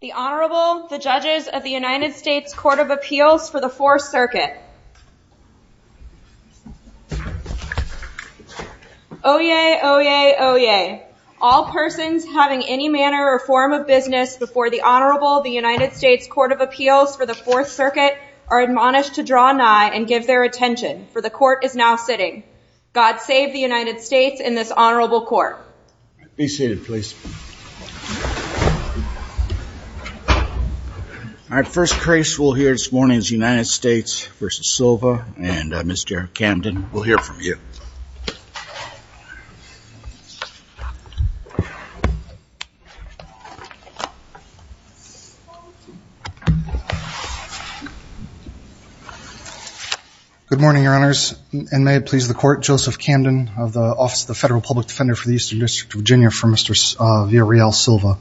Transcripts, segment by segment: The Honorable, the Judges of the United States Court of Appeals for the Fourth Circuit Oyez! Oyez! Oyez! All persons having any manner or form of business before the Honorable, the United States Court of Appeals for the Fourth Circuit are admonished to draw nigh and give their attention, for the Court is now sitting. God save the United States and this Honorable Court. Be seated please. All right, first case we'll hear this morning is the United States v. Silva and Mr. Camden we'll hear from you. Good morning Your Honors and may it please the Court, Joseph Camden of the Office of the Federal Public Defender for the Eastern District of Virginia for Mr. Villarreal Silva.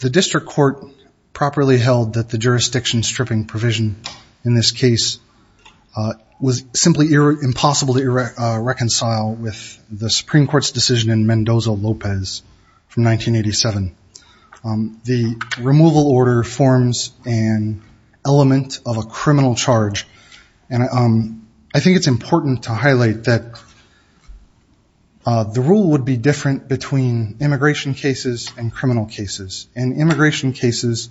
The District Court properly held that the jurisdiction stripping provision in this case was simply impossible to reconcile with the Supreme Court's decision in Mendoza-Lopez from 1987. The removal order forms an element of a criminal charge and I think it's important to highlight that the rule would be different between immigration cases and criminal cases. In immigration cases,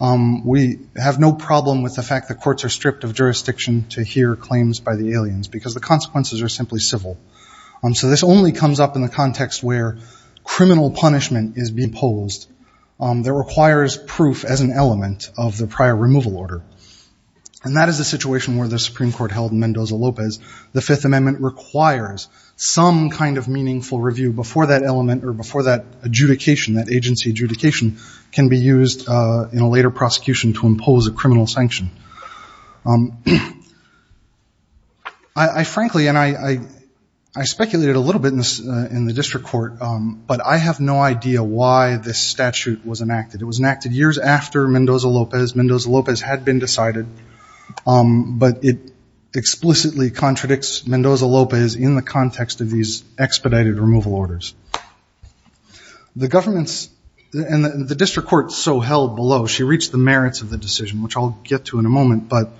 it's not a jurisdiction to hear claims by the aliens because the consequences are simply civil. So this only comes up in the context where criminal punishment is being imposed that requires proof as an element of the prior removal order. And that is a situation where the Supreme Court held in Mendoza-Lopez the Fifth Amendment requires some kind of meaningful review before that element or before that adjudication, that agency adjudication can be used in a later prosecution to impose a criminal sanction. I frankly and I speculated a little bit in the District Court but I have no idea why this statute was enacted. It was enacted years after Mendoza-Lopez. Mendoza-Lopez had been decided but it explicitly contradicts Mendoza-Lopez in the context of these expedited removal orders. The government's and the District Court so held below, she reached the merits of the decision which I'll get to in a moment but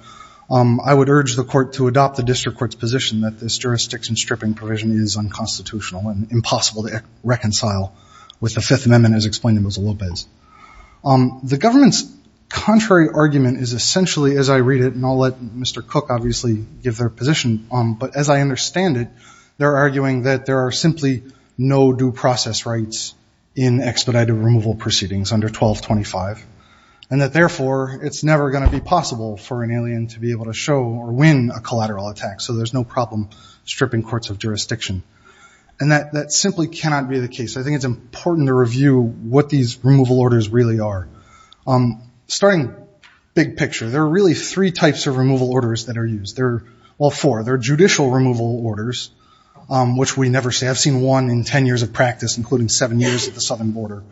I would urge the court to adopt the District Court's position that this jurisdiction stripping provision is unconstitutional and impossible to reconcile with the Fifth Amendment as explained in Mendoza-Lopez. The government's contrary argument is essentially as I read it and I'll let Mr. Cook obviously give their position but as I understand it they're arguing that there are simply no due process rights in expedited removal proceedings under 1225 and that therefore it's never going to be possible for an alien to be able to show or win a collateral attack so there's no problem stripping courts of jurisdiction and that simply cannot be the case. I think it's important to review what these removal orders really are. Starting big picture there are really three types of removal orders that are used. Well four, there are judicial removal orders which we never say. I've seen one in ten years of practice including seven years at the southern border.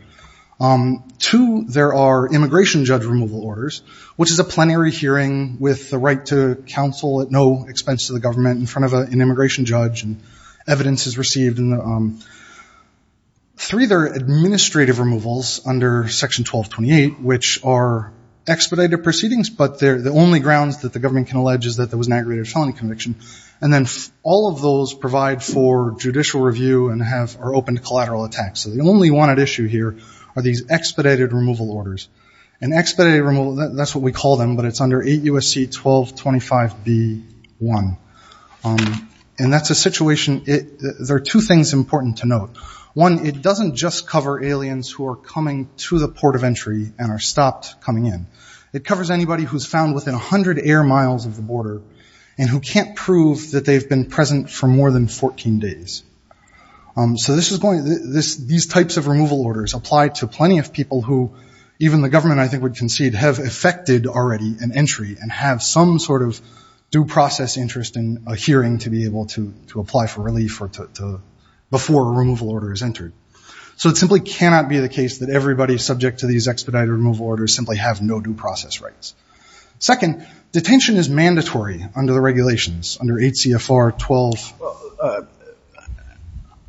Two, there are immigration judge removal orders which is a plenary hearing with the right to counsel at no expense to the government in front of an immigration judge and evidence is received. Three, there are administrative removals under section 1228 which are expedited proceedings but they're the only grounds that the government alleges that there was an aggravated felony conviction and then all of those provide for judicial review and are open to collateral attacks. The only one at issue here are these expedited removal orders and expedited removal, that's what we call them, but it's under 8 U.S.C. 1225b1 and that's a situation, there are two things important to note. One, it doesn't just cover aliens who are coming to the port of entry and are stopped coming in. It covers anybody who's found within a hundred air miles of the border and who can't prove that they've been present for more than 14 days. So these types of removal orders apply to plenty of people who even the government I think would concede have effected already an entry and have some sort of due process interest in a hearing to be able to apply for relief before a removal order is entered. So it simply cannot be the case that everybody subject to these expedited removal orders simply have no due process rights. Second, detention is mandatory under the regulations under 8 CFR 12.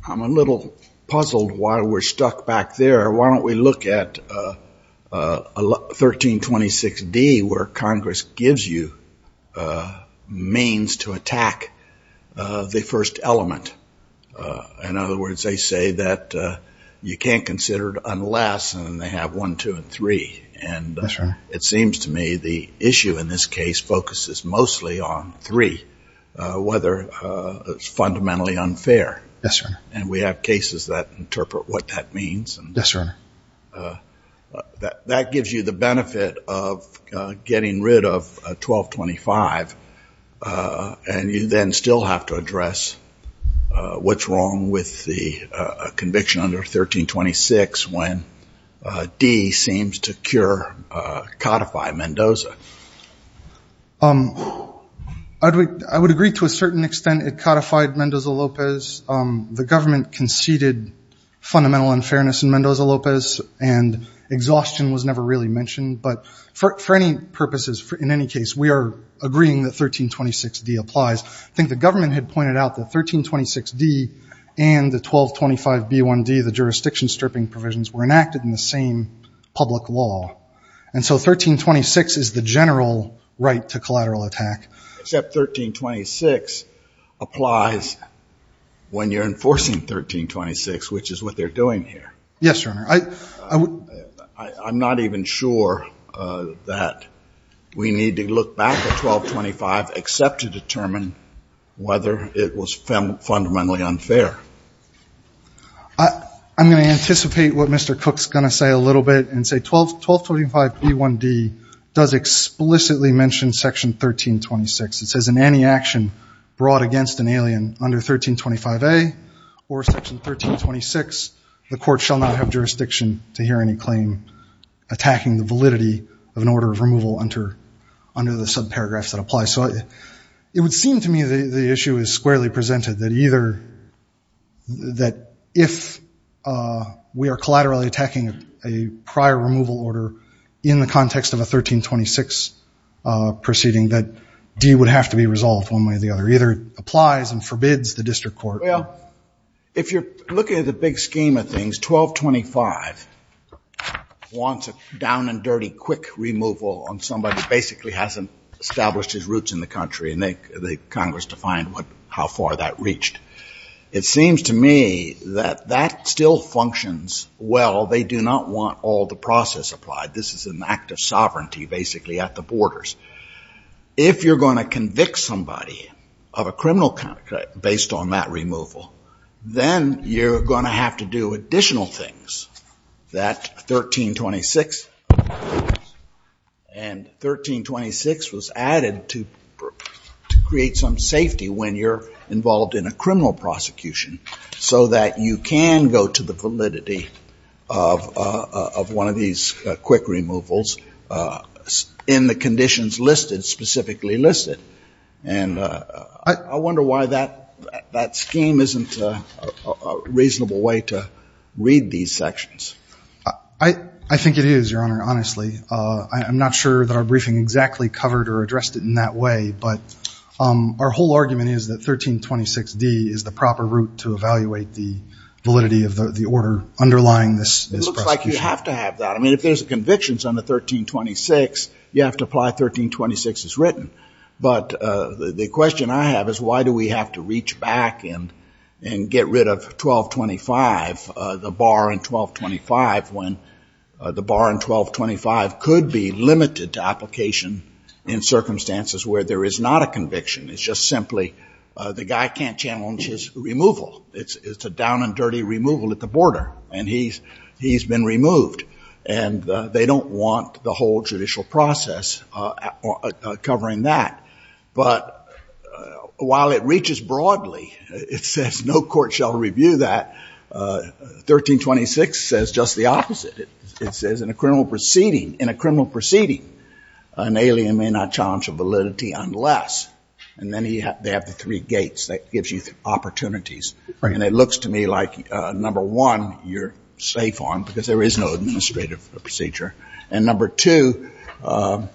I'm a little puzzled why we're stuck back there. Why don't we look at 1326d where Congress gives you means to attack the first element. In other words, they say that you can't consider it unless they have one, two, and three. And it seems to me the issue in this case focuses mostly on three, whether it's fundamentally unfair. And we have cases that interpret what that means. And that gives you the benefit of getting rid of 1225 and you then still have to address what's wrong with the conviction under 1326 when D seems to codify Mendoza. I would agree to a certain extent it codified Mendoza-Lopez. The government conceded fundamental unfairness in Mendoza-Lopez and exhaustion was never really mentioned. But for any purposes, in any case, we are agreeing that 1326d applies. I think the government had pointed out that 1326d and the 1225b1d, the jurisdiction stripping provisions, were enacted in the same public law. And so 1326 is the general right to collateral attack. Except 1326 applies when you're enforcing 1326, which is what they're doing here. Yes, Your Honor. I'm not even sure that we need to look back at 1225 except to determine whether it was fundamentally unfair. I'm going to anticipate what Mr. Cook's going to say a little bit and say 1225b1d does explicitly mention section 1326. It says in any action brought against an alien under 1325a or section 1326, the court shall not have jurisdiction to hear any claim attacking the validity of an order of removal under the subparagraphs that apply. So it would seem to me the issue is squarely presented that if we are collaterally attacking a prior removal order in the context of a 1326 proceeding, that d would have to be resolved one way or the other. Either it applies and forbids the district court. Well, if you're looking at the big scheme of things, 1225 wants a down-and-dirty quick removal on somebody who basically hasn't established his roots in the country, and the Congress defined how far that reached. It seems to me that that still functions well. They do not want all the process applied. This is an act of sovereignty basically at the borders. If you're going to convict somebody of a criminal conduct based on that removal, then you're going to have to do additional things. That 1326 and 1326 was added to create some safety when you're involved in a criminal prosecution so that you can go to the validity of one of these quick removals in the conditions listed, specifically listed. And I wonder why that scheme isn't a reasonable way to read these sections. I think it is, Your Honor, honestly. I'm not sure that our briefing exactly covered or addressed it in that way, but our whole argument is that 1326d is the proper route to evaluate the validity of the order underlying this. It looks like you have to have that. I mean, if there's convictions on the 1326, you have to 1326 is written. But the question I have is why do we have to reach back and get rid of 1225, the bar in 1225, when the bar in 1225 could be limited to application in circumstances where there is not a conviction. It's just simply the guy can't challenge his removal. It's a down and dirty removal at the border, and he's been removed. And they don't want the whole judicial process of covering that. But while it reaches broadly, it says no court shall review that. 1326 says just the opposite. It says in a criminal proceeding, in a criminal proceeding, an alien may not challenge a validity unless. And then they have the three gates that gives you opportunities. And it looks to me like, number one, you're safe on because there is no administrative procedure. And number two, at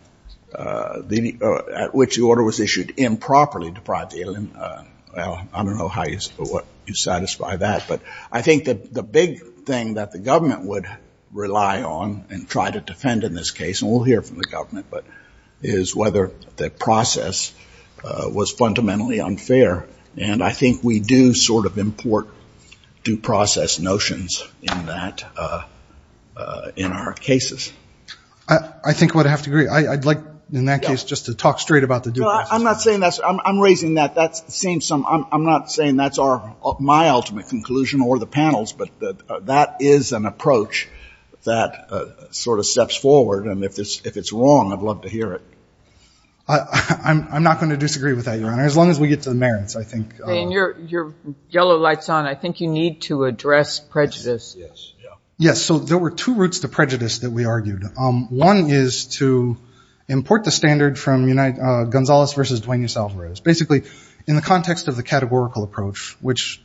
which the order was issued improperly deprived the alien. Well, I don't know how you satisfy that. But I think that the big thing that the government would rely on and try to defend in this case, and we'll hear from the government, but is whether the process was fundamentally unfair. And I think we do sort of import due process notions in that, in our cases. I think what I have to agree, I'd like, in that case, just to talk straight about the due process. I'm not saying that's, I'm raising that. That seems some, I'm not saying that's our, my ultimate conclusion or the panels, but that is an approach that sort of steps forward. And if it's, if it's wrong, I'd love to hear it. I'm not going to disagree with that, Your Honor, as long as we get to the merits, I think. Your yellow light's on. I think you need to address prejudice. Yes, so there were two routes to prejudice that we argued. One is to import the standard from Gonzales versus Duane E. Salvarez. Basically, in the context of the categorical approach, which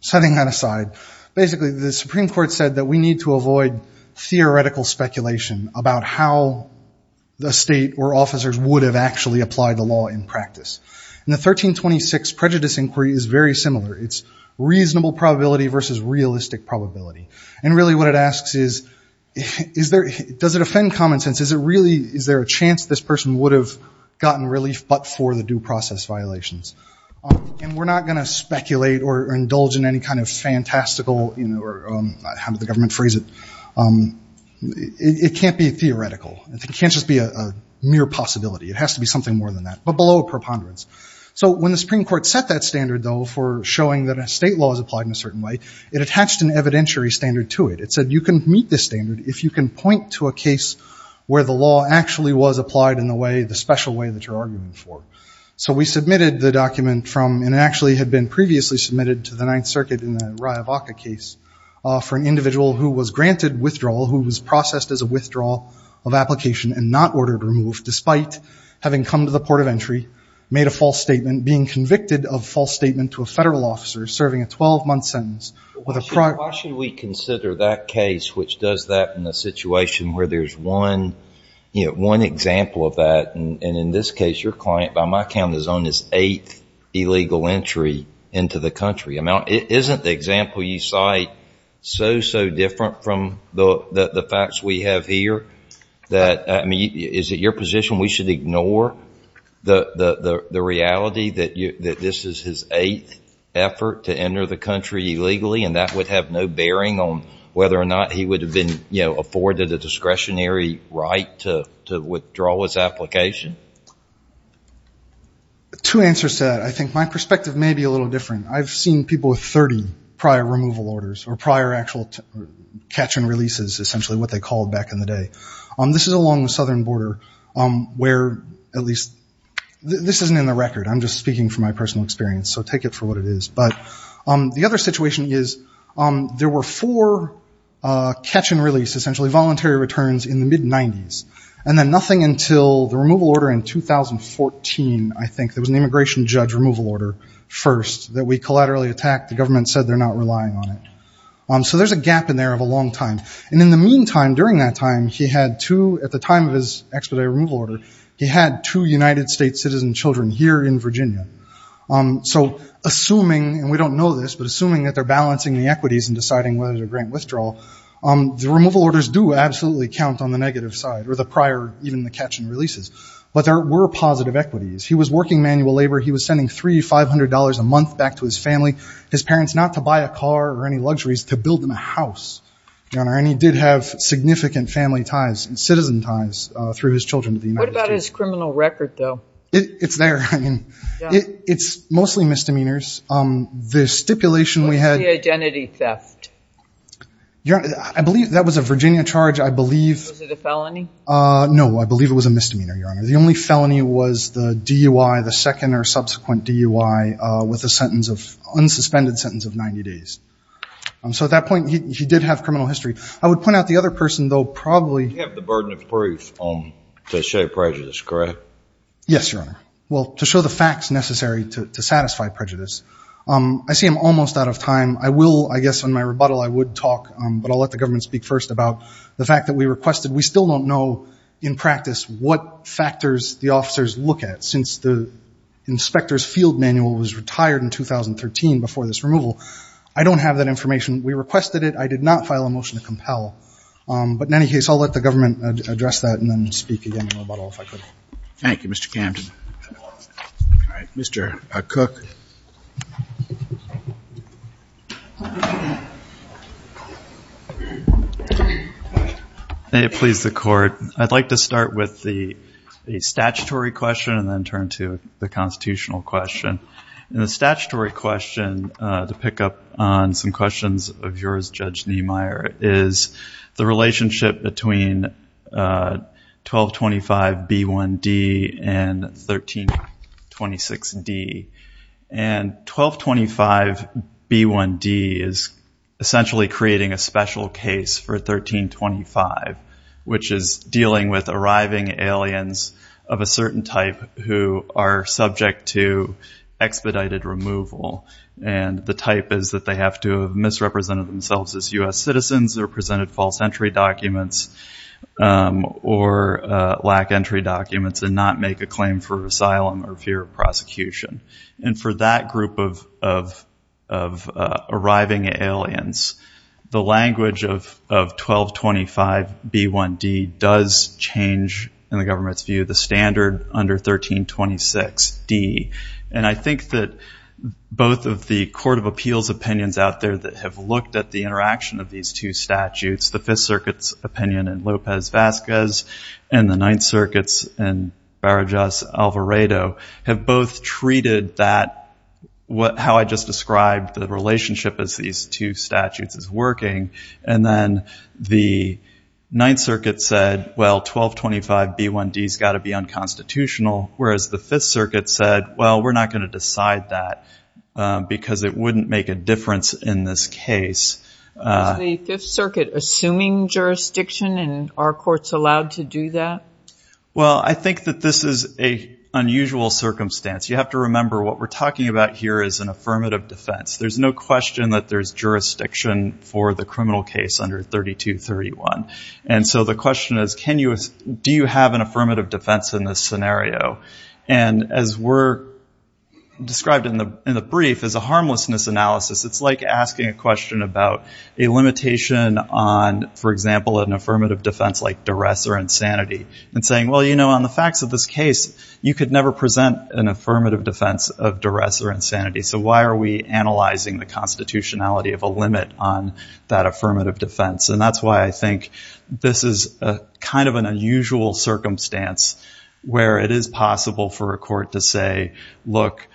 setting that aside, basically the Supreme Court said that we need to avoid theoretical speculation about how the state or officers would have actually applied the law in practice. And the 1326 prejudice inquiry is very similar. It's reasonable probability versus realistic probability. And really what it asks is, is there, does it offend common sense? Is it really, is there a chance this person would have gotten relief but for the due process violations? And we're not going to speculate or indulge in any kind of fantastical, or how did the government phrase it? It can't be theoretical. It can't just be a mere possibility. It has to be something more than that, but below a preponderance. So when the Supreme Court set that standard, though, for showing that a state law is applied in a certain way, it attached an evidentiary standard to it. It said you can meet this standard if you can point to a case where the law actually was applied in the way, the special way that you're arguing for. So we submitted the case for an individual who was granted withdrawal, who was processed as a withdrawal of application and not ordered to remove, despite having come to the port of entry, made a false statement, being convicted of false statement to a federal officer serving a 12-month sentence with a prior. Why should we consider that case which does that in a situation where there's one, you know, one example of that, and in this case your client by my count is on his eighth illegal entry into the country. Isn't the example you cite so, so different from the facts we have here that, I mean, is it your position we should ignore the reality that this is his eighth effort to enter the country illegally, and that would have no bearing on whether or not he would have been, you know, afforded a discretionary right to withdraw his application? Two answers to that. I think my perspective may be a little different. I've seen people with 30 prior removal orders, or prior actual catch and releases, essentially what they called back in the day. This is along the southern border where at least, this isn't in the record. I'm just speaking from my personal experience, so take it for what it is. But the other situation is there were four catch and releases. I remember in 2014, I think, there was an immigration judge removal order first that we collaterally attacked. The government said they're not relying on it. So there's a gap in there of a long time. And in the meantime, during that time, he had two, at the time of his expedited removal order, he had two United States citizen children here in Virginia. So assuming, and we don't know this, but assuming that they're balancing the equities and deciding whether to grant withdrawal, the removal orders do absolutely count on the negative side, or the prior, even the catch and releases. But there were positive equities. He was working manual labor. He was sending $300, $500 a month back to his family, his parents, not to buy a car or any luxuries, to build them a house, Your Honor. And he did have significant family ties and citizen ties through his children to the United States. What about his criminal record, though? It's there. I mean, it's mostly misdemeanors. The stipulation we had- What is the identity theft? Your Honor, I believe that was a Virginia charge. I believe- Was it a felony? No, I believe it was a misdemeanor, Your Honor. The only felony was the DUI, the second or subsequent DUI, with a sentence of, unsuspended sentence of 90 days. So at that point, he did have criminal history. I would point out the other person, though, probably- You have the burden of proof to show prejudice, correct? Yes, Your Honor. Well, to show the facts necessary to satisfy prejudice. I see I'm almost out of time. I will, I guess on my rebuttal, I would talk, but I'll let the government speak first about the in practice, what factors the officers look at. Since the inspector's field manual was retired in 2013 before this removal, I don't have that information. We requested it. I did not file a motion to compel. But in any case, I'll let the government address that and then speak again on my rebuttal if I could. Thank you, Mr. Camden. All right, Mr. Cook. May it please the court. I'd like to start with the statutory question and then turn to the constitutional question. The statutory question, to pick up on some questions of yours, Judge and 1225B1D is essentially creating a special case for 1325, which is dealing with arriving aliens of a certain type who are subject to expedited removal. And the type is that they have to have misrepresented themselves as U.S. citizens or presented false entry documents or lack entry documents and not make a claim for asylum or fear of prosecution. And for that group of arriving aliens, the language of 1225B1D does change in the government's view, the standard under 1326D. And I think that both of the court of appeals opinions out there that have looked at the interaction of these two statutes, the Fifth Circuit's opinion in Lopez-Vasquez and the Ninth Circuit's in Barajas- Alvarado have both treated that, how I just described the relationship as these two statutes is working. And then the Ninth Circuit said, well, 1225B1D has got to be unconstitutional. Whereas the Fifth Circuit said, well, we're not going to decide that because it wouldn't make a difference in this case. Is the Fifth Circuit assuming jurisdiction and are courts allowed to do that? Well, I think that this is a unusual circumstance. You have to remember what we're talking about here is an affirmative defense. There's no question that there's jurisdiction for the criminal case under 3231. And so the question is, do you have an affirmative defense in this scenario? And as we're described in the brief as a harmlessness analysis, it's like asking a question about a limitation on, for example, an affirmative defense like duress or insanity and saying, well, you know, on the facts of this case, you could never present an affirmative defense of duress or insanity. So why are we analyzing the constitutionality of a limit on that affirmative defense? And that's why I think this is a kind of an unusual circumstance where it is possible for a court to say, look,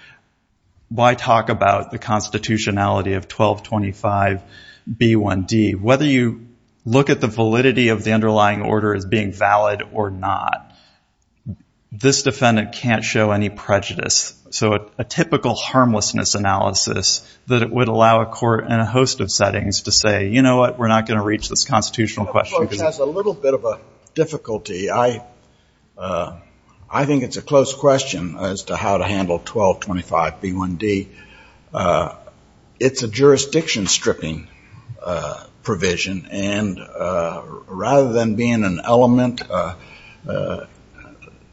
why talk about the constitutionality of 1225b1d? Whether you look at the validity of the underlying order as being valid or not, this defendant can't show any prejudice. So a typical harmlessness analysis that it would allow a court and a host of settings to say, you know what, we're not going to reach this constitutional question. This has a little bit of a difficulty. I think it's a close question as to how to handle 1225b1d. It's a jurisdiction stripping provision. And rather than being an element,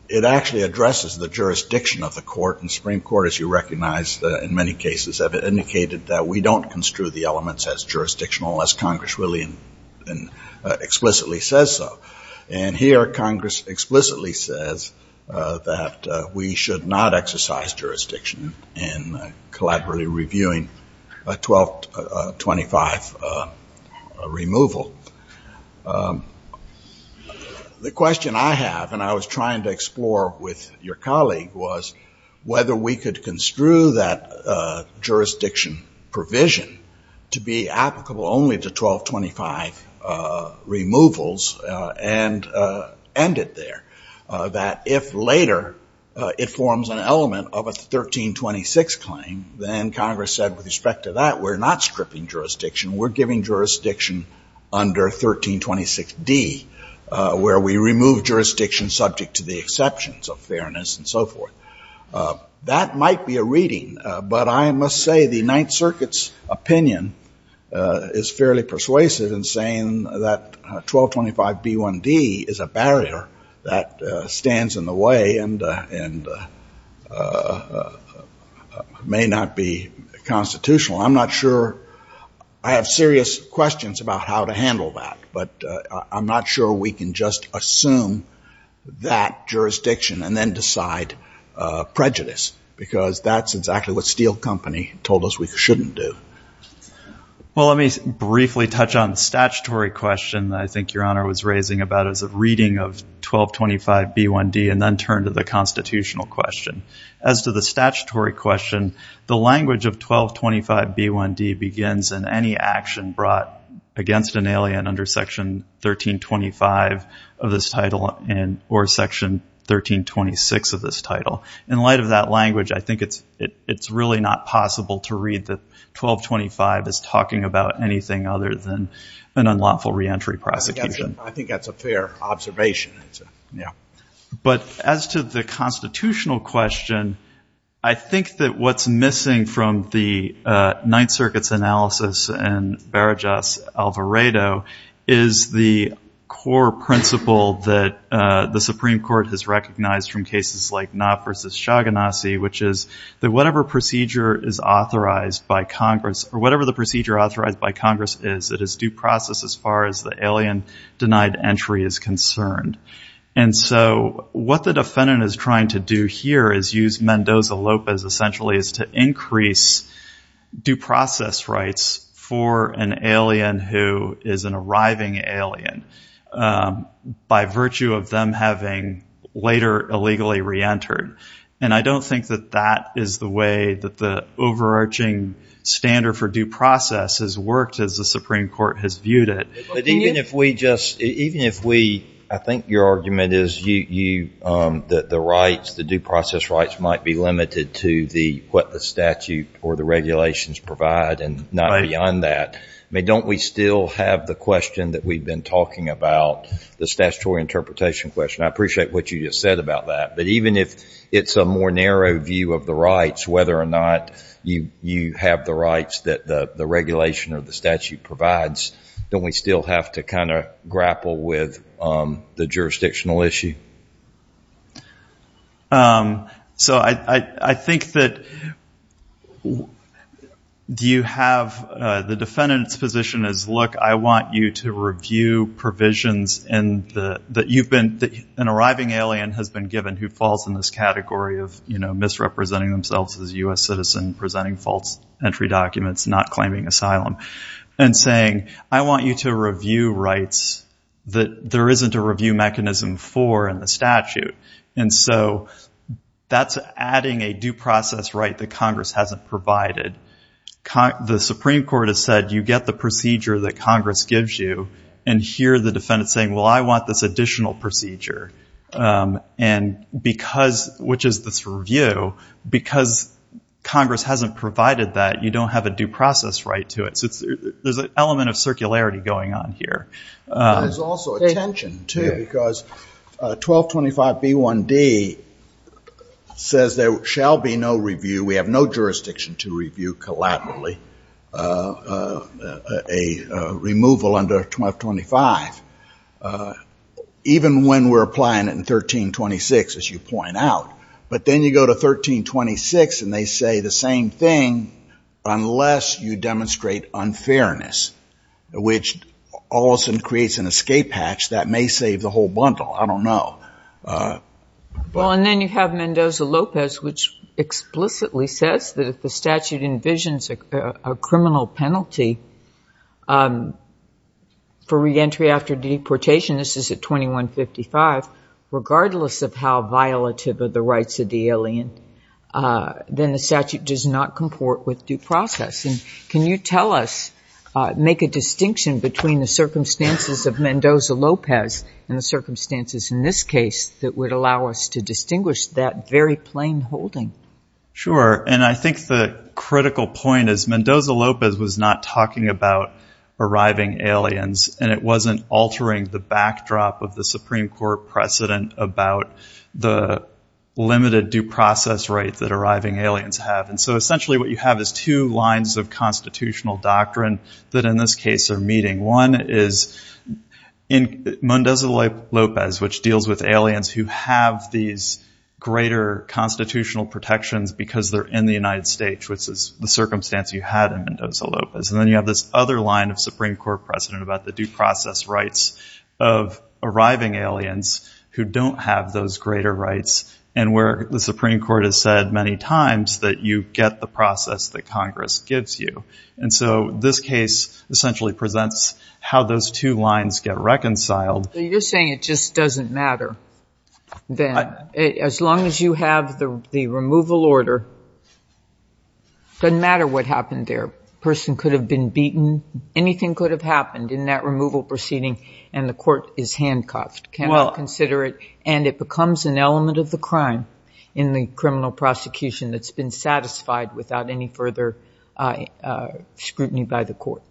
it actually addresses the jurisdiction of the court. And the Supreme Court, as you recognize in many cases, have indicated that we don't construe the elements as jurisdictional, as Congress explicitly says so. And here Congress explicitly says that we should not exercise jurisdiction in collaboratively reviewing 1225 removal. The question I have, and I was trying to explore with your colleague, was whether we could construe that jurisdiction provision to be applicable only to 1225 removals and end it there. That if later it forms an element of a 1326 claim, then Congress said, with respect to that, we're not stripping jurisdiction. We're giving jurisdiction under 1326d, where we remove jurisdiction subject to the exceptions of fairness and so forth. That might be a reading, but I must say the Ninth Circuit's opinion is fairly persuasive in saying that 1225b1d is a barrier that stands in the way and may not be constitutional. I'm not sure. I have serious questions about how to handle that, but I'm not sure we can just assume that jurisdiction and then decide prejudice, because that's exactly what Steel Company told us we shouldn't do. Well, let me briefly touch on the statutory question that I think your Honor was raising about as a reading of 1225b1d and then turn to the constitutional question. As to the statutory question, the language of 1225b1d begins in any action brought against an alien under section 1325 of this title or section 1326 of this title. In light of that language, I think it's really not possible to read that 1225 is talking about anything other than an unlawful reentry prosecution. I think that's a fair observation. Yeah. But as to the constitutional question, I think that what's missing from the Ninth Circuit's analysis and Barajas' Alvarado is the core principle that the Supreme Court has recognized from cases like Knapp v. Chagannassi, which is that whatever the procedure authorized by Congress is, it is due process as far as the alien-denied entry is concerned. And so what the defendant is trying to do here is use Mendoza-Lopez essentially is to increase due process rights for an alien who is an arriving alien by virtue of them having later illegally reentered. And I don't think that that is the way that the overarching standard for due process has worked as the Supreme Court has viewed it. But even if we just, even if we, I think your argument is that the rights, the due process rights might be limited to what the statute or the regulations provide and not beyond that. I mean, don't we still have the question that we've been talking about, the statutory interpretation question? I appreciate what you just said about that, but even if it's a more narrow view of the rights, whether or not you have the rights that the regulation or the statute provides, don't we still have to kind of grapple with the jurisdictional issue? So I think that do you have, the defendant's position is, look, I want you to review provisions in the, that you've been, an arriving alien has been given who falls in this category of, you know, misrepresenting themselves as a U.S. citizen, presenting false entry documents, not claiming asylum and saying, I want you to review rights that there isn't a review mechanism for in the statute. And so that's adding a due process right that Congress hasn't provided. The Supreme Court has said, you get the procedure that Congress gives you and hear the defendant saying, well, I want this additional procedure. And because, which is this review, because Congress hasn't provided that you don't have a due process right to it. So there's an element of circularity going on here. There's also a tension too, because 1225B1D says there shall be no review. We have no jurisdiction to review collaboratively a removal under 1225. Even when we're applying it in 1326, as you point out, but then you go to 1326 and they say the same thing, unless you demonstrate unfairness, which also creates an escape hatch that may save the whole bundle. I don't know. Well, and then you have Mendoza-Lopez, which explicitly says that if the statute envisions a criminal penalty for reentry after deportation, this is at 2155, regardless of how violative of the rights of the alien, then the statute does not comport with due process. And can you tell us, make a distinction between the circumstances of Mendoza-Lopez and the circumstances in this case that would allow us to distinguish that very plain holding? Sure. And I think the critical point is Mendoza-Lopez was not talking about arriving aliens and it wasn't altering the backdrop of the Supreme Court precedent about the limited due process right that arriving aliens have. And so essentially what you have is two lines of constitutional doctrine that in this case are meeting. One is in Mendoza-Lopez, which deals with aliens who have these greater constitutional protections because they're in the United States, which is the circumstance you had in Mendoza-Lopez. And then you have this other line of Supreme Court precedent about the due process rights of arriving aliens who don't have those greater rights and where the Supreme Court has said many times that you get the process that Congress gives you. And so this case essentially presents how those two lines get reconciled. You're saying it just doesn't matter then. As long as you have the removal order, doesn't matter what happened there. Person could have been beaten. Anything could have happened in that removal proceeding and the court is handcuffed. Can I consider it? And it becomes an element of the crime in the criminal prosecution that's been satisfied without any further scrutiny by the court.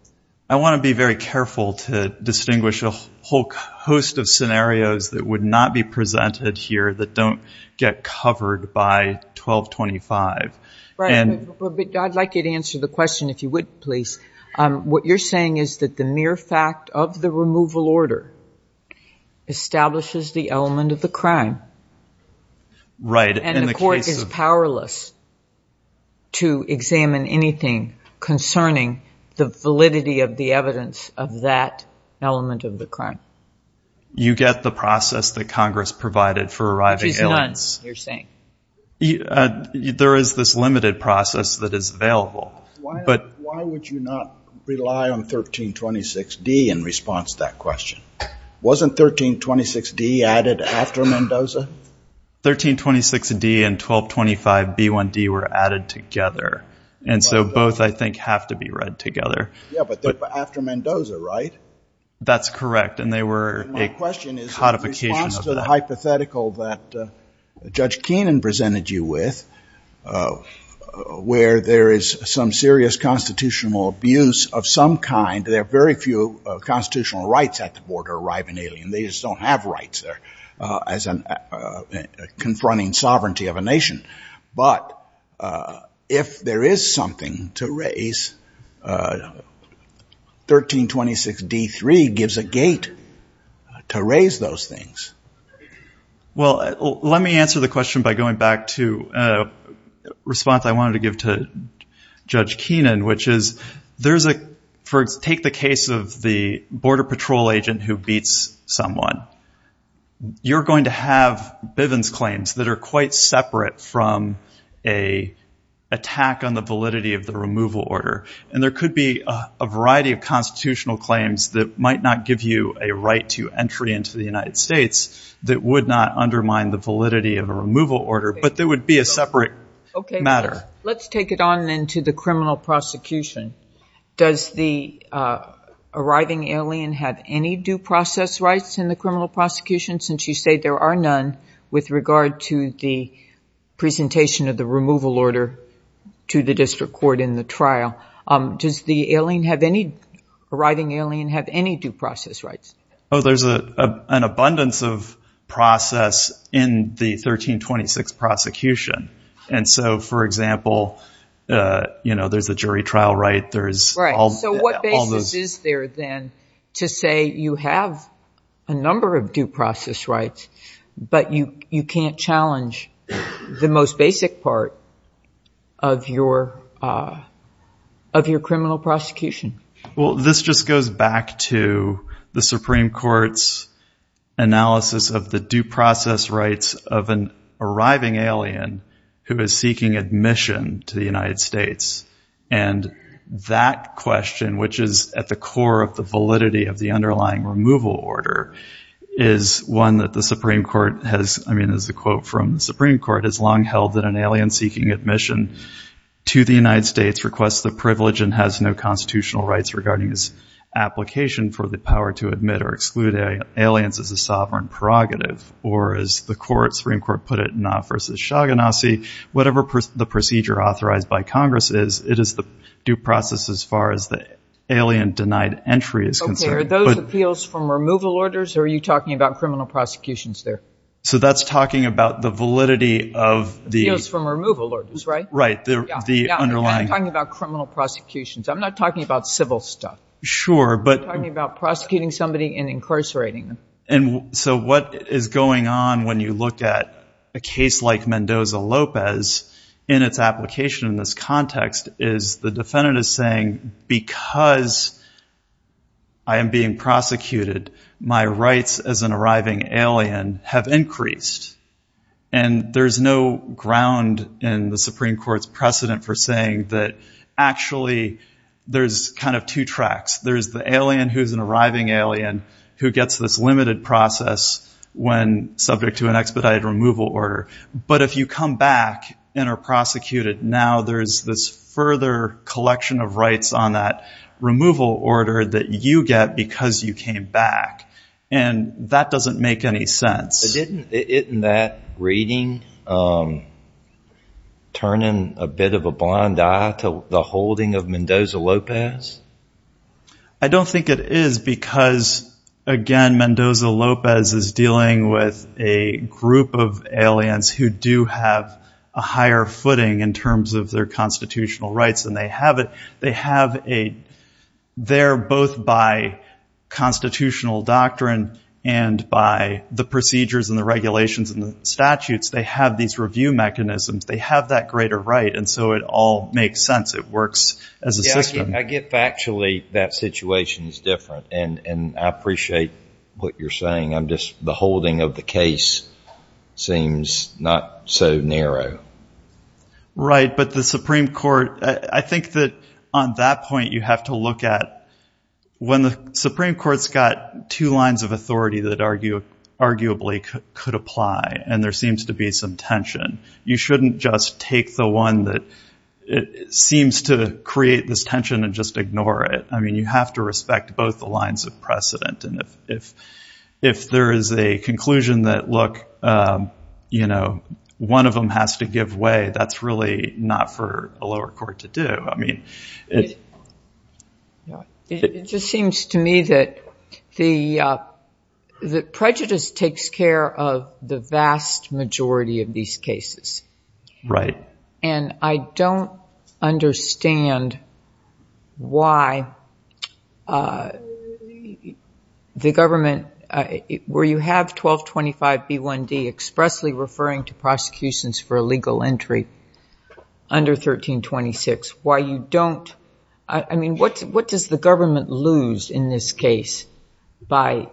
I want to be very careful to distinguish a whole host of scenarios that would not be presented here that don't get covered by 1225. Right. I'd like you to answer the question if you would, please. What you're saying is that the mere fact of the removal order establishes the element of the crime. Right. And the court is powerless to examine anything concerning the validity of the evidence of that element of the crime. You get the process that Congress provided for arriving aliens. Which is none, you're saying. There is this limited process that is available. Why would you not rely on 1326d in response to that question? Wasn't 1326d added after Mendoza? 1326d and 1225b1d were added together. And so both, I think, have to be read together. Yeah, but after Mendoza, right? That's correct. And they were a codification of the hypothetical that Judge Keenan presented you with, where there is some serious constitutional abuse of some kind. There are very few constitutional rights at the border arriving alien. They just don't have rights there as confronting sovereignty of a nation. But if there is something to raise, 1326d3 gives a gate to raise those things. Well, let me answer the question by going back to response I wanted to give to Judge Keenan, which is, take the case of the border patrol agent who beats someone. You're going to have Bivens claims that are quite separate from an attack on the validity of the removal order. And there could be a variety of constitutional claims that might not give you a right to entry into the United States that would not undermine the validity of a removal order. But there would be a separate matter. Okay, let's take it on then to the criminal prosecution. Does the arriving alien have any due process rights in the criminal prosecution, since you say there are none with regard to the presentation of the removal order to the district court in the trial? Does the arriving alien have any due process rights? Oh, there's an abundance of process in the 1326 prosecution. And so, for example, you know, there's a jury trial right, there's... Right. So what basis is there then to say you have a number of due process rights, but you can't challenge the most basic part of your criminal prosecution? Well, this just goes back to the Supreme Court's analysis of the due process rights of an arriving alien who is seeking admission to the United States. And that question, which is at the core of the validity of the underlying removal order, is one that the Supreme Court has, I mean, there's a quote from the Supreme Court, it's long held that an alien seeking admission to the United States requests the privilege and has no constitutional rights regarding his application for the power to admit or exclude aliens as a sovereign prerogative. Or as the Supreme Court put it, NAFTA versus Shogganassi, whatever the procedure authorized by Congress is, it is the due process as far as the alien denied entry is concerned. Okay, are those appeals from removal orders, or are you talking about the... Appeals from removal orders, right? Right, the underlying... I'm talking about criminal prosecutions, I'm not talking about civil stuff. Sure, but... I'm talking about prosecuting somebody and incarcerating them. And so what is going on when you look at a case like Mendoza-Lopez in its application in this context is the defendant is saying, because I am being prosecuted, my rights as an arriving alien have increased. And there's no ground in the Supreme Court's precedent for saying that actually there's kind of two tracks. There's the alien who's an arriving alien who gets this limited process when subject to an expedited removal order. But if you come back and are prosecuted, now there's this further collection of rights on that removal order that you get because you came back. And that doesn't make any sense. Isn't that reading turning a bit of a blind eye to the holding of Mendoza-Lopez? I don't think it is because, again, Mendoza-Lopez is dealing with a group of aliens who do have a higher footing in terms of their constitutional rights than they have it. They have a... They're both by constitutional doctrine and by the procedures and the regulations and the statutes. They have these review mechanisms. They have that greater right. And so it all makes sense. It works as a system. I get factually that situation is different. And I appreciate what you're saying. I'm just... The holding of the case seems not so narrow. Right. But the Supreme Court, I think that on that point, you have to look at when the Supreme Court's got two lines of authority that arguably could apply and there seems to be some tension, you shouldn't just take the one that seems to create this tension and just ignore it. I mean, you have to respect both the lines of precedent. And if there is a conclusion that, look, one of them has to give way, that's really not for a lower court to do. I mean... It just seems to me that the prejudice takes care of the vast majority of these cases. Right. And I don't understand why the government... Where you have 1225 B1D expressly referring to prosecutions for illegal entry under 1326, why you don't... I mean, what does the government lose in this case by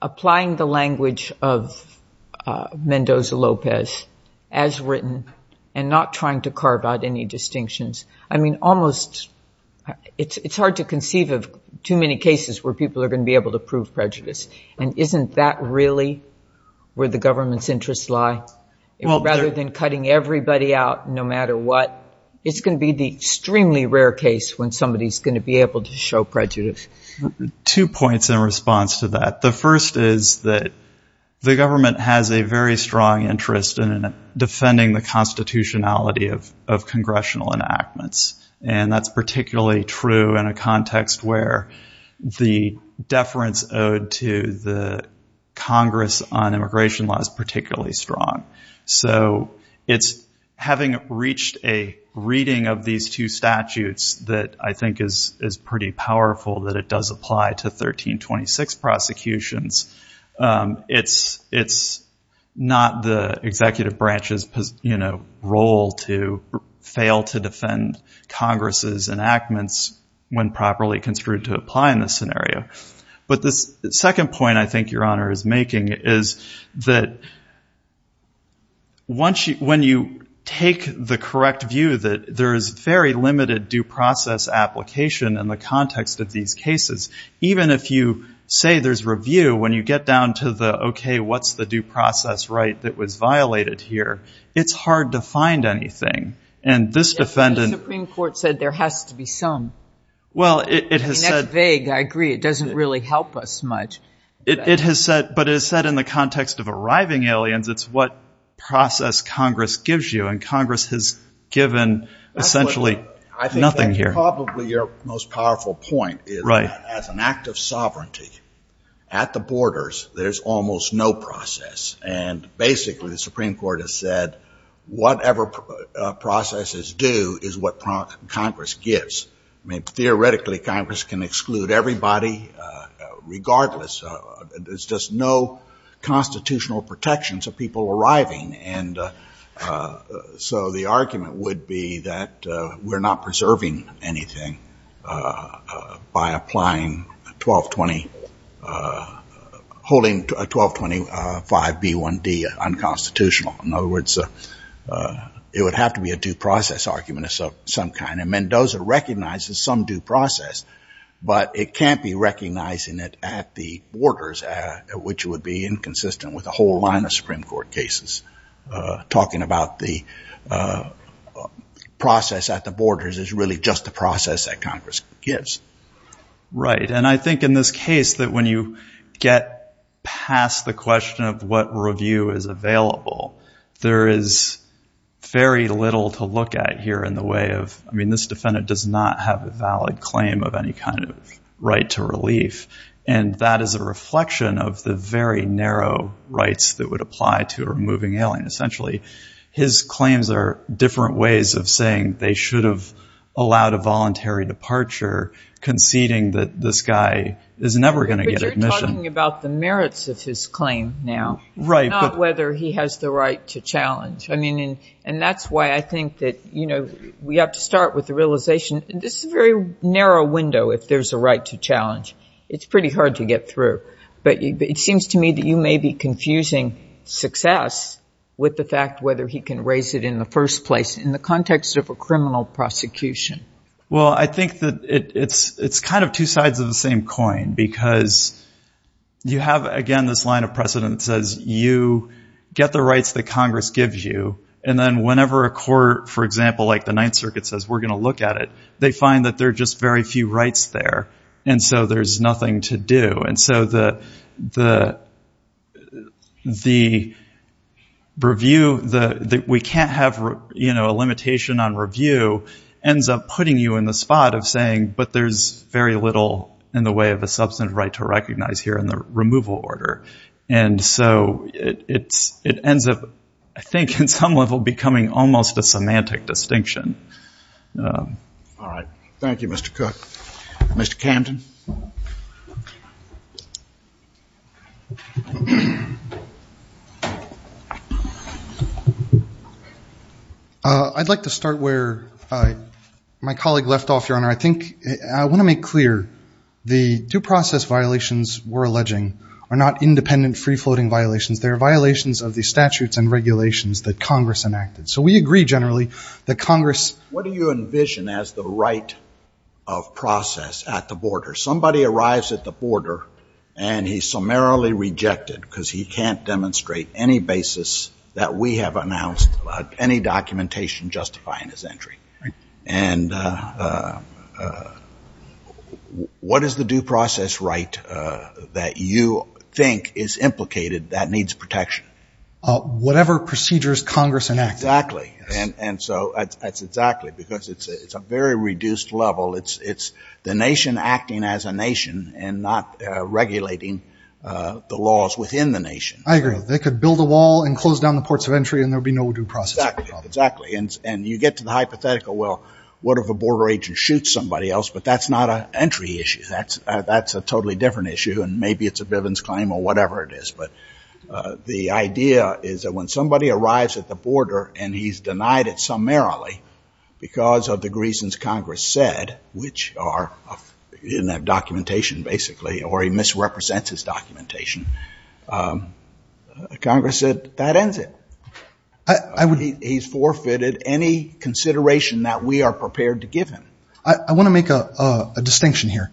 applying the language of Mendoza-Lopez as written and not trying to carve out any distinctions? I mean, almost... It's hard to conceive of too many cases where people are going to be able to prove prejudice. And isn't that really where the government's interests lie? Rather than cutting everybody out no matter what, it's going to be the extremely rare case when somebody is going to be able to show prejudice. Two points in response to that. The first is that the government has a very strong interest in defending the constitutionality of congressional enactments. And that's particularly true in a context where the deference owed to the Congress on immigration law is particularly strong. So it's having reached a reading of these two statutes that I think is pretty powerful, that it does apply to 1326 prosecutions. It's not the executive branch's role to fail to defend Congress's enactments when properly construed to apply in this scenario. But the second point I think Your Honor is making is that when you take the correct view that there is very limited due process application in the context of these cases, even if you say there's review, when you get down to the, okay, what's the due process right that was violated here, it's hard to find anything. And this defendant... The Supreme Court said there has to be some. Well, it has said... And that's vague. I agree. It doesn't really help us much. But it has said in the context of arriving aliens, it's what process Congress gives you. And Congress has given essentially nothing here. I think that's probably your most powerful point is that as an act of sovereignty at the borders, there's almost no process. And basically, the Supreme Court has said whatever processes do is what Congress gives. I mean, theoretically, Congress can exclude everybody regardless. There's just no constitutional protections of people arriving. And so the argument would be that we're not preserving anything by applying 1220... In other words, it would have to be a due process argument of some kind. And Mendoza recognizes some due process, but it can't be recognizing it at the borders, which would be inconsistent with a whole line of Supreme Court cases. Talking about the process at the borders is really just the process that Congress gives. Right. And I think in this case that when you get past the question of what review is available, there is very little to look at here in the way of... I mean, this defendant does not have a valid claim of any kind of right to relief. And that is a reflection of the very narrow rights that would apply to a moving alien. Essentially, his claims are different ways of saying they should have allowed a voluntary departure conceding that this is never going to get admission. But you're talking about the merits of his claim now. Right. Not whether he has the right to challenge. I mean, and that's why I think that we have to start with the realization... This is a very narrow window if there's a right to challenge. It's pretty hard to get through. But it seems to me that you may be confusing success with the fact whether he can raise it in the first place in the context of a criminal prosecution. Well, I think that it's kind of two sides of the same coin because you have, again, this line of precedent that says you get the rights that Congress gives you. And then whenever a court, for example, like the Ninth Circuit says, we're going to look at it, they find that there are just very few rights there. And so there's nothing to do. And so the review that we can't have a limitation on review ends up putting you in the spot of saying, but there's very little in the way of a substantive right to recognize here in the removal order. And so it ends up, I think, in some level becoming almost a semantic distinction. All right. Thank you, Mr. Cook. Mr. Camden. I'd like to start where my colleague left off, Your Honor. I want to make clear the due process violations we're alleging are not independent, free-floating violations. They're violations of the statutes and regulations that Congress enacted. So we agree generally that Congress— What do you envision as the right of process at the border? Somebody arrives at the border and he's summarily rejected because he can't demonstrate any basis that we have announced about any documentation justifying his entry. And what is the due process right that you think is implicated that needs protection? Whatever procedures Congress enacted. Exactly. And so that's exactly, because it's a very reduced level. It's the nation acting as a nation and not regulating the laws within the nation. I agree. They could build a wall and close down the ports of entry and there'd be no due process. Exactly. And you get to the hypothetical, well, what if a border agent shoots somebody else? But that's not an entry issue. That's a totally different issue. And maybe it's a Bivens claim or whatever it is. But the idea is that when somebody arrives at the border and he's denied it summarily because of the reasons Congress said, which are in that documentation, basically, or he misrepresents his documentation, Congress said, that ends it. He's forfeited any consideration that we are prepared to give him. I want to make a distinction here.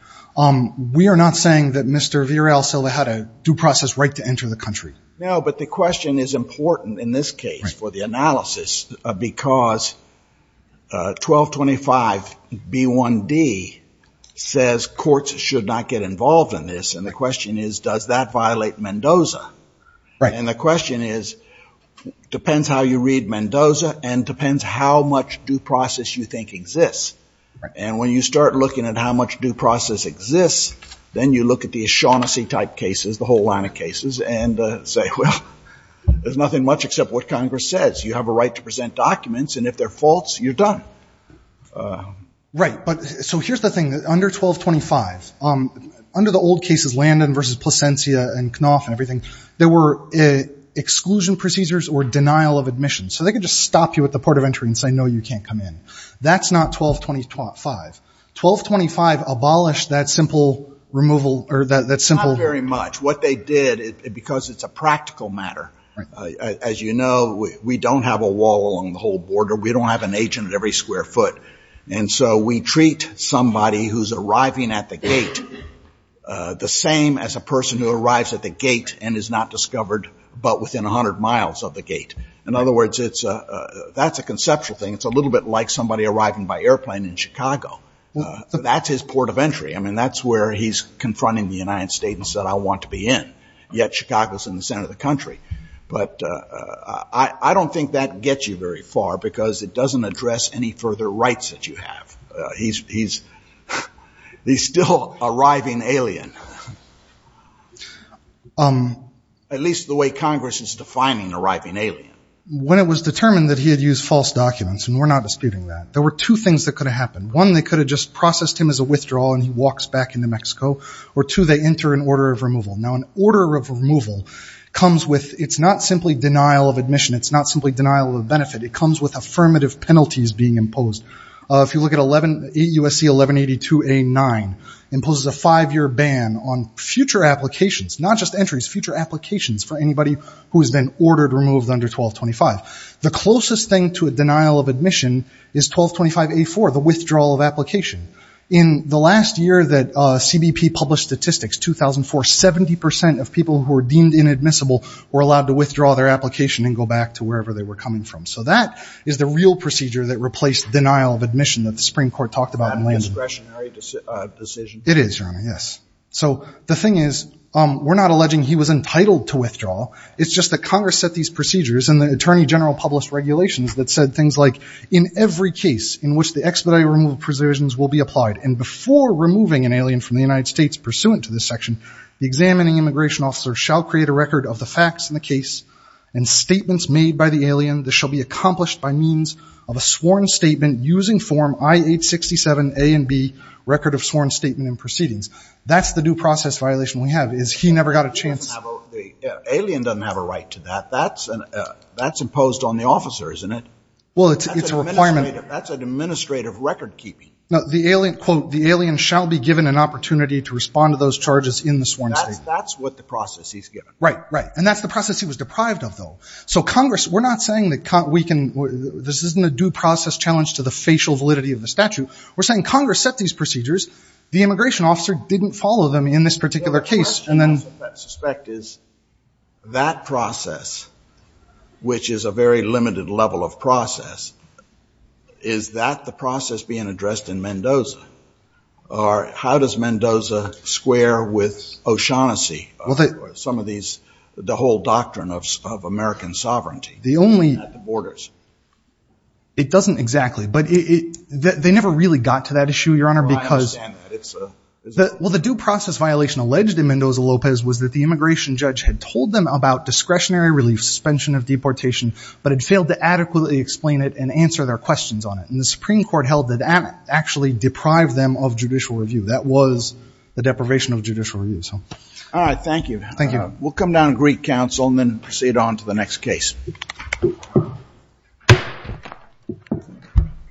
We are not saying that Mr. Virel Silva had a due process right to enter the country. No, but the question is important in this case for analysis because 1225 B1D says courts should not get involved in this. And the question is, does that violate Mendoza? And the question is, depends how you read Mendoza and depends how much due process you think exists. And when you start looking at how much due process exists, then you look at these Shaughnessy type cases, the whole line of cases, and say, well, there's nothing much except what Congress says. You have a right to present documents, and if they're false, you're done. Right. But so here's the thing. Under 1225, under the old cases, Landon versus Plasencia and Knopf and everything, there were exclusion procedures or denial of admission. So they could just stop you at the port of entry and say, no, you can't come in. That's not 1225. 1225 abolished that simple removal or that simple- As you know, we don't have a wall along the whole border. We don't have an agent at every square foot. And so we treat somebody who's arriving at the gate the same as a person who arrives at the gate and is not discovered but within 100 miles of the gate. In other words, that's a conceptual thing. It's a little bit like somebody arriving by airplane in Chicago. That's his port of entry. I mean, that's where he's confronting the United States and said, I want to be in. Yet Chicago's in the center of the country. But I don't think that gets you very far because it doesn't address any further rights that you have. He's still arriving alien. At least the way Congress is defining arriving alien. When it was determined that he had used false documents, and we're not disputing that, there were two things that could have happened. One, they could have just processed him as a withdrawal and he walks back into Mexico. Or two, they enter an order of removal. Now, order of removal comes with, it's not simply denial of admission. It's not simply denial of benefit. It comes with affirmative penalties being imposed. If you look at USC 1182A9, it imposes a five-year ban on future applications, not just entries, future applications for anybody who has been ordered removed under 1225. The closest thing to a denial of admission is 1225A4, the withdrawal of application. In the last year that CBP published statistics, 2004, 70% of people who were deemed inadmissible were allowed to withdraw their application and go back to wherever they were coming from. So that is the real procedure that replaced denial of admission that the Supreme Court talked about. It is, Your Honor, yes. So the thing is, we're not alleging he was entitled to withdraw. It's just that Congress set these procedures and the Attorney General published regulations that said things like, in every case in which the expedited removal provisions will be applied and before removing an alien from the United States pursuant to this section, the examining immigration officer shall create a record of the facts in the case and statements made by the alien that shall be accomplished by means of a sworn statement using Form I-867A and B, Record of Sworn Statement and Proceedings. That's the due process violation we have, is he never got a chance. The alien doesn't have a right to that. That's imposed on the officer, isn't it? Well, it's a requirement. That's an administrative record keeping. No, the alien, quote, the alien shall be given an opportunity to respond to those charges in the sworn statement. That's what the process he's given. Right, right. And that's the process he was deprived of, though. So Congress, we're not saying that we can, this isn't a due process challenge to the facial validity of the statute. We're saying Congress set these procedures. The immigration officer didn't follow them in this particular case. My question, I suspect, is that process, which is a very limited level of process, is that the process being addressed in Mendoza? Or how does Mendoza square with O'Shaughnessy, some of these, the whole doctrine of American sovereignty at the borders? It doesn't exactly, but they never really got to that issue, Your Honor, because. I understand that. Well, the due process violation alleged in Mendoza-Lopez was that the immigration judge had told them about discretionary relief, suspension of deportation, but had failed to adequately explain it and answer their questions on it. And the Supreme Court held that that actually deprived them of judicial review. That was the deprivation of judicial review, so. All right. Thank you. Thank you. We'll come down and greet counsel and then proceed on to the next case.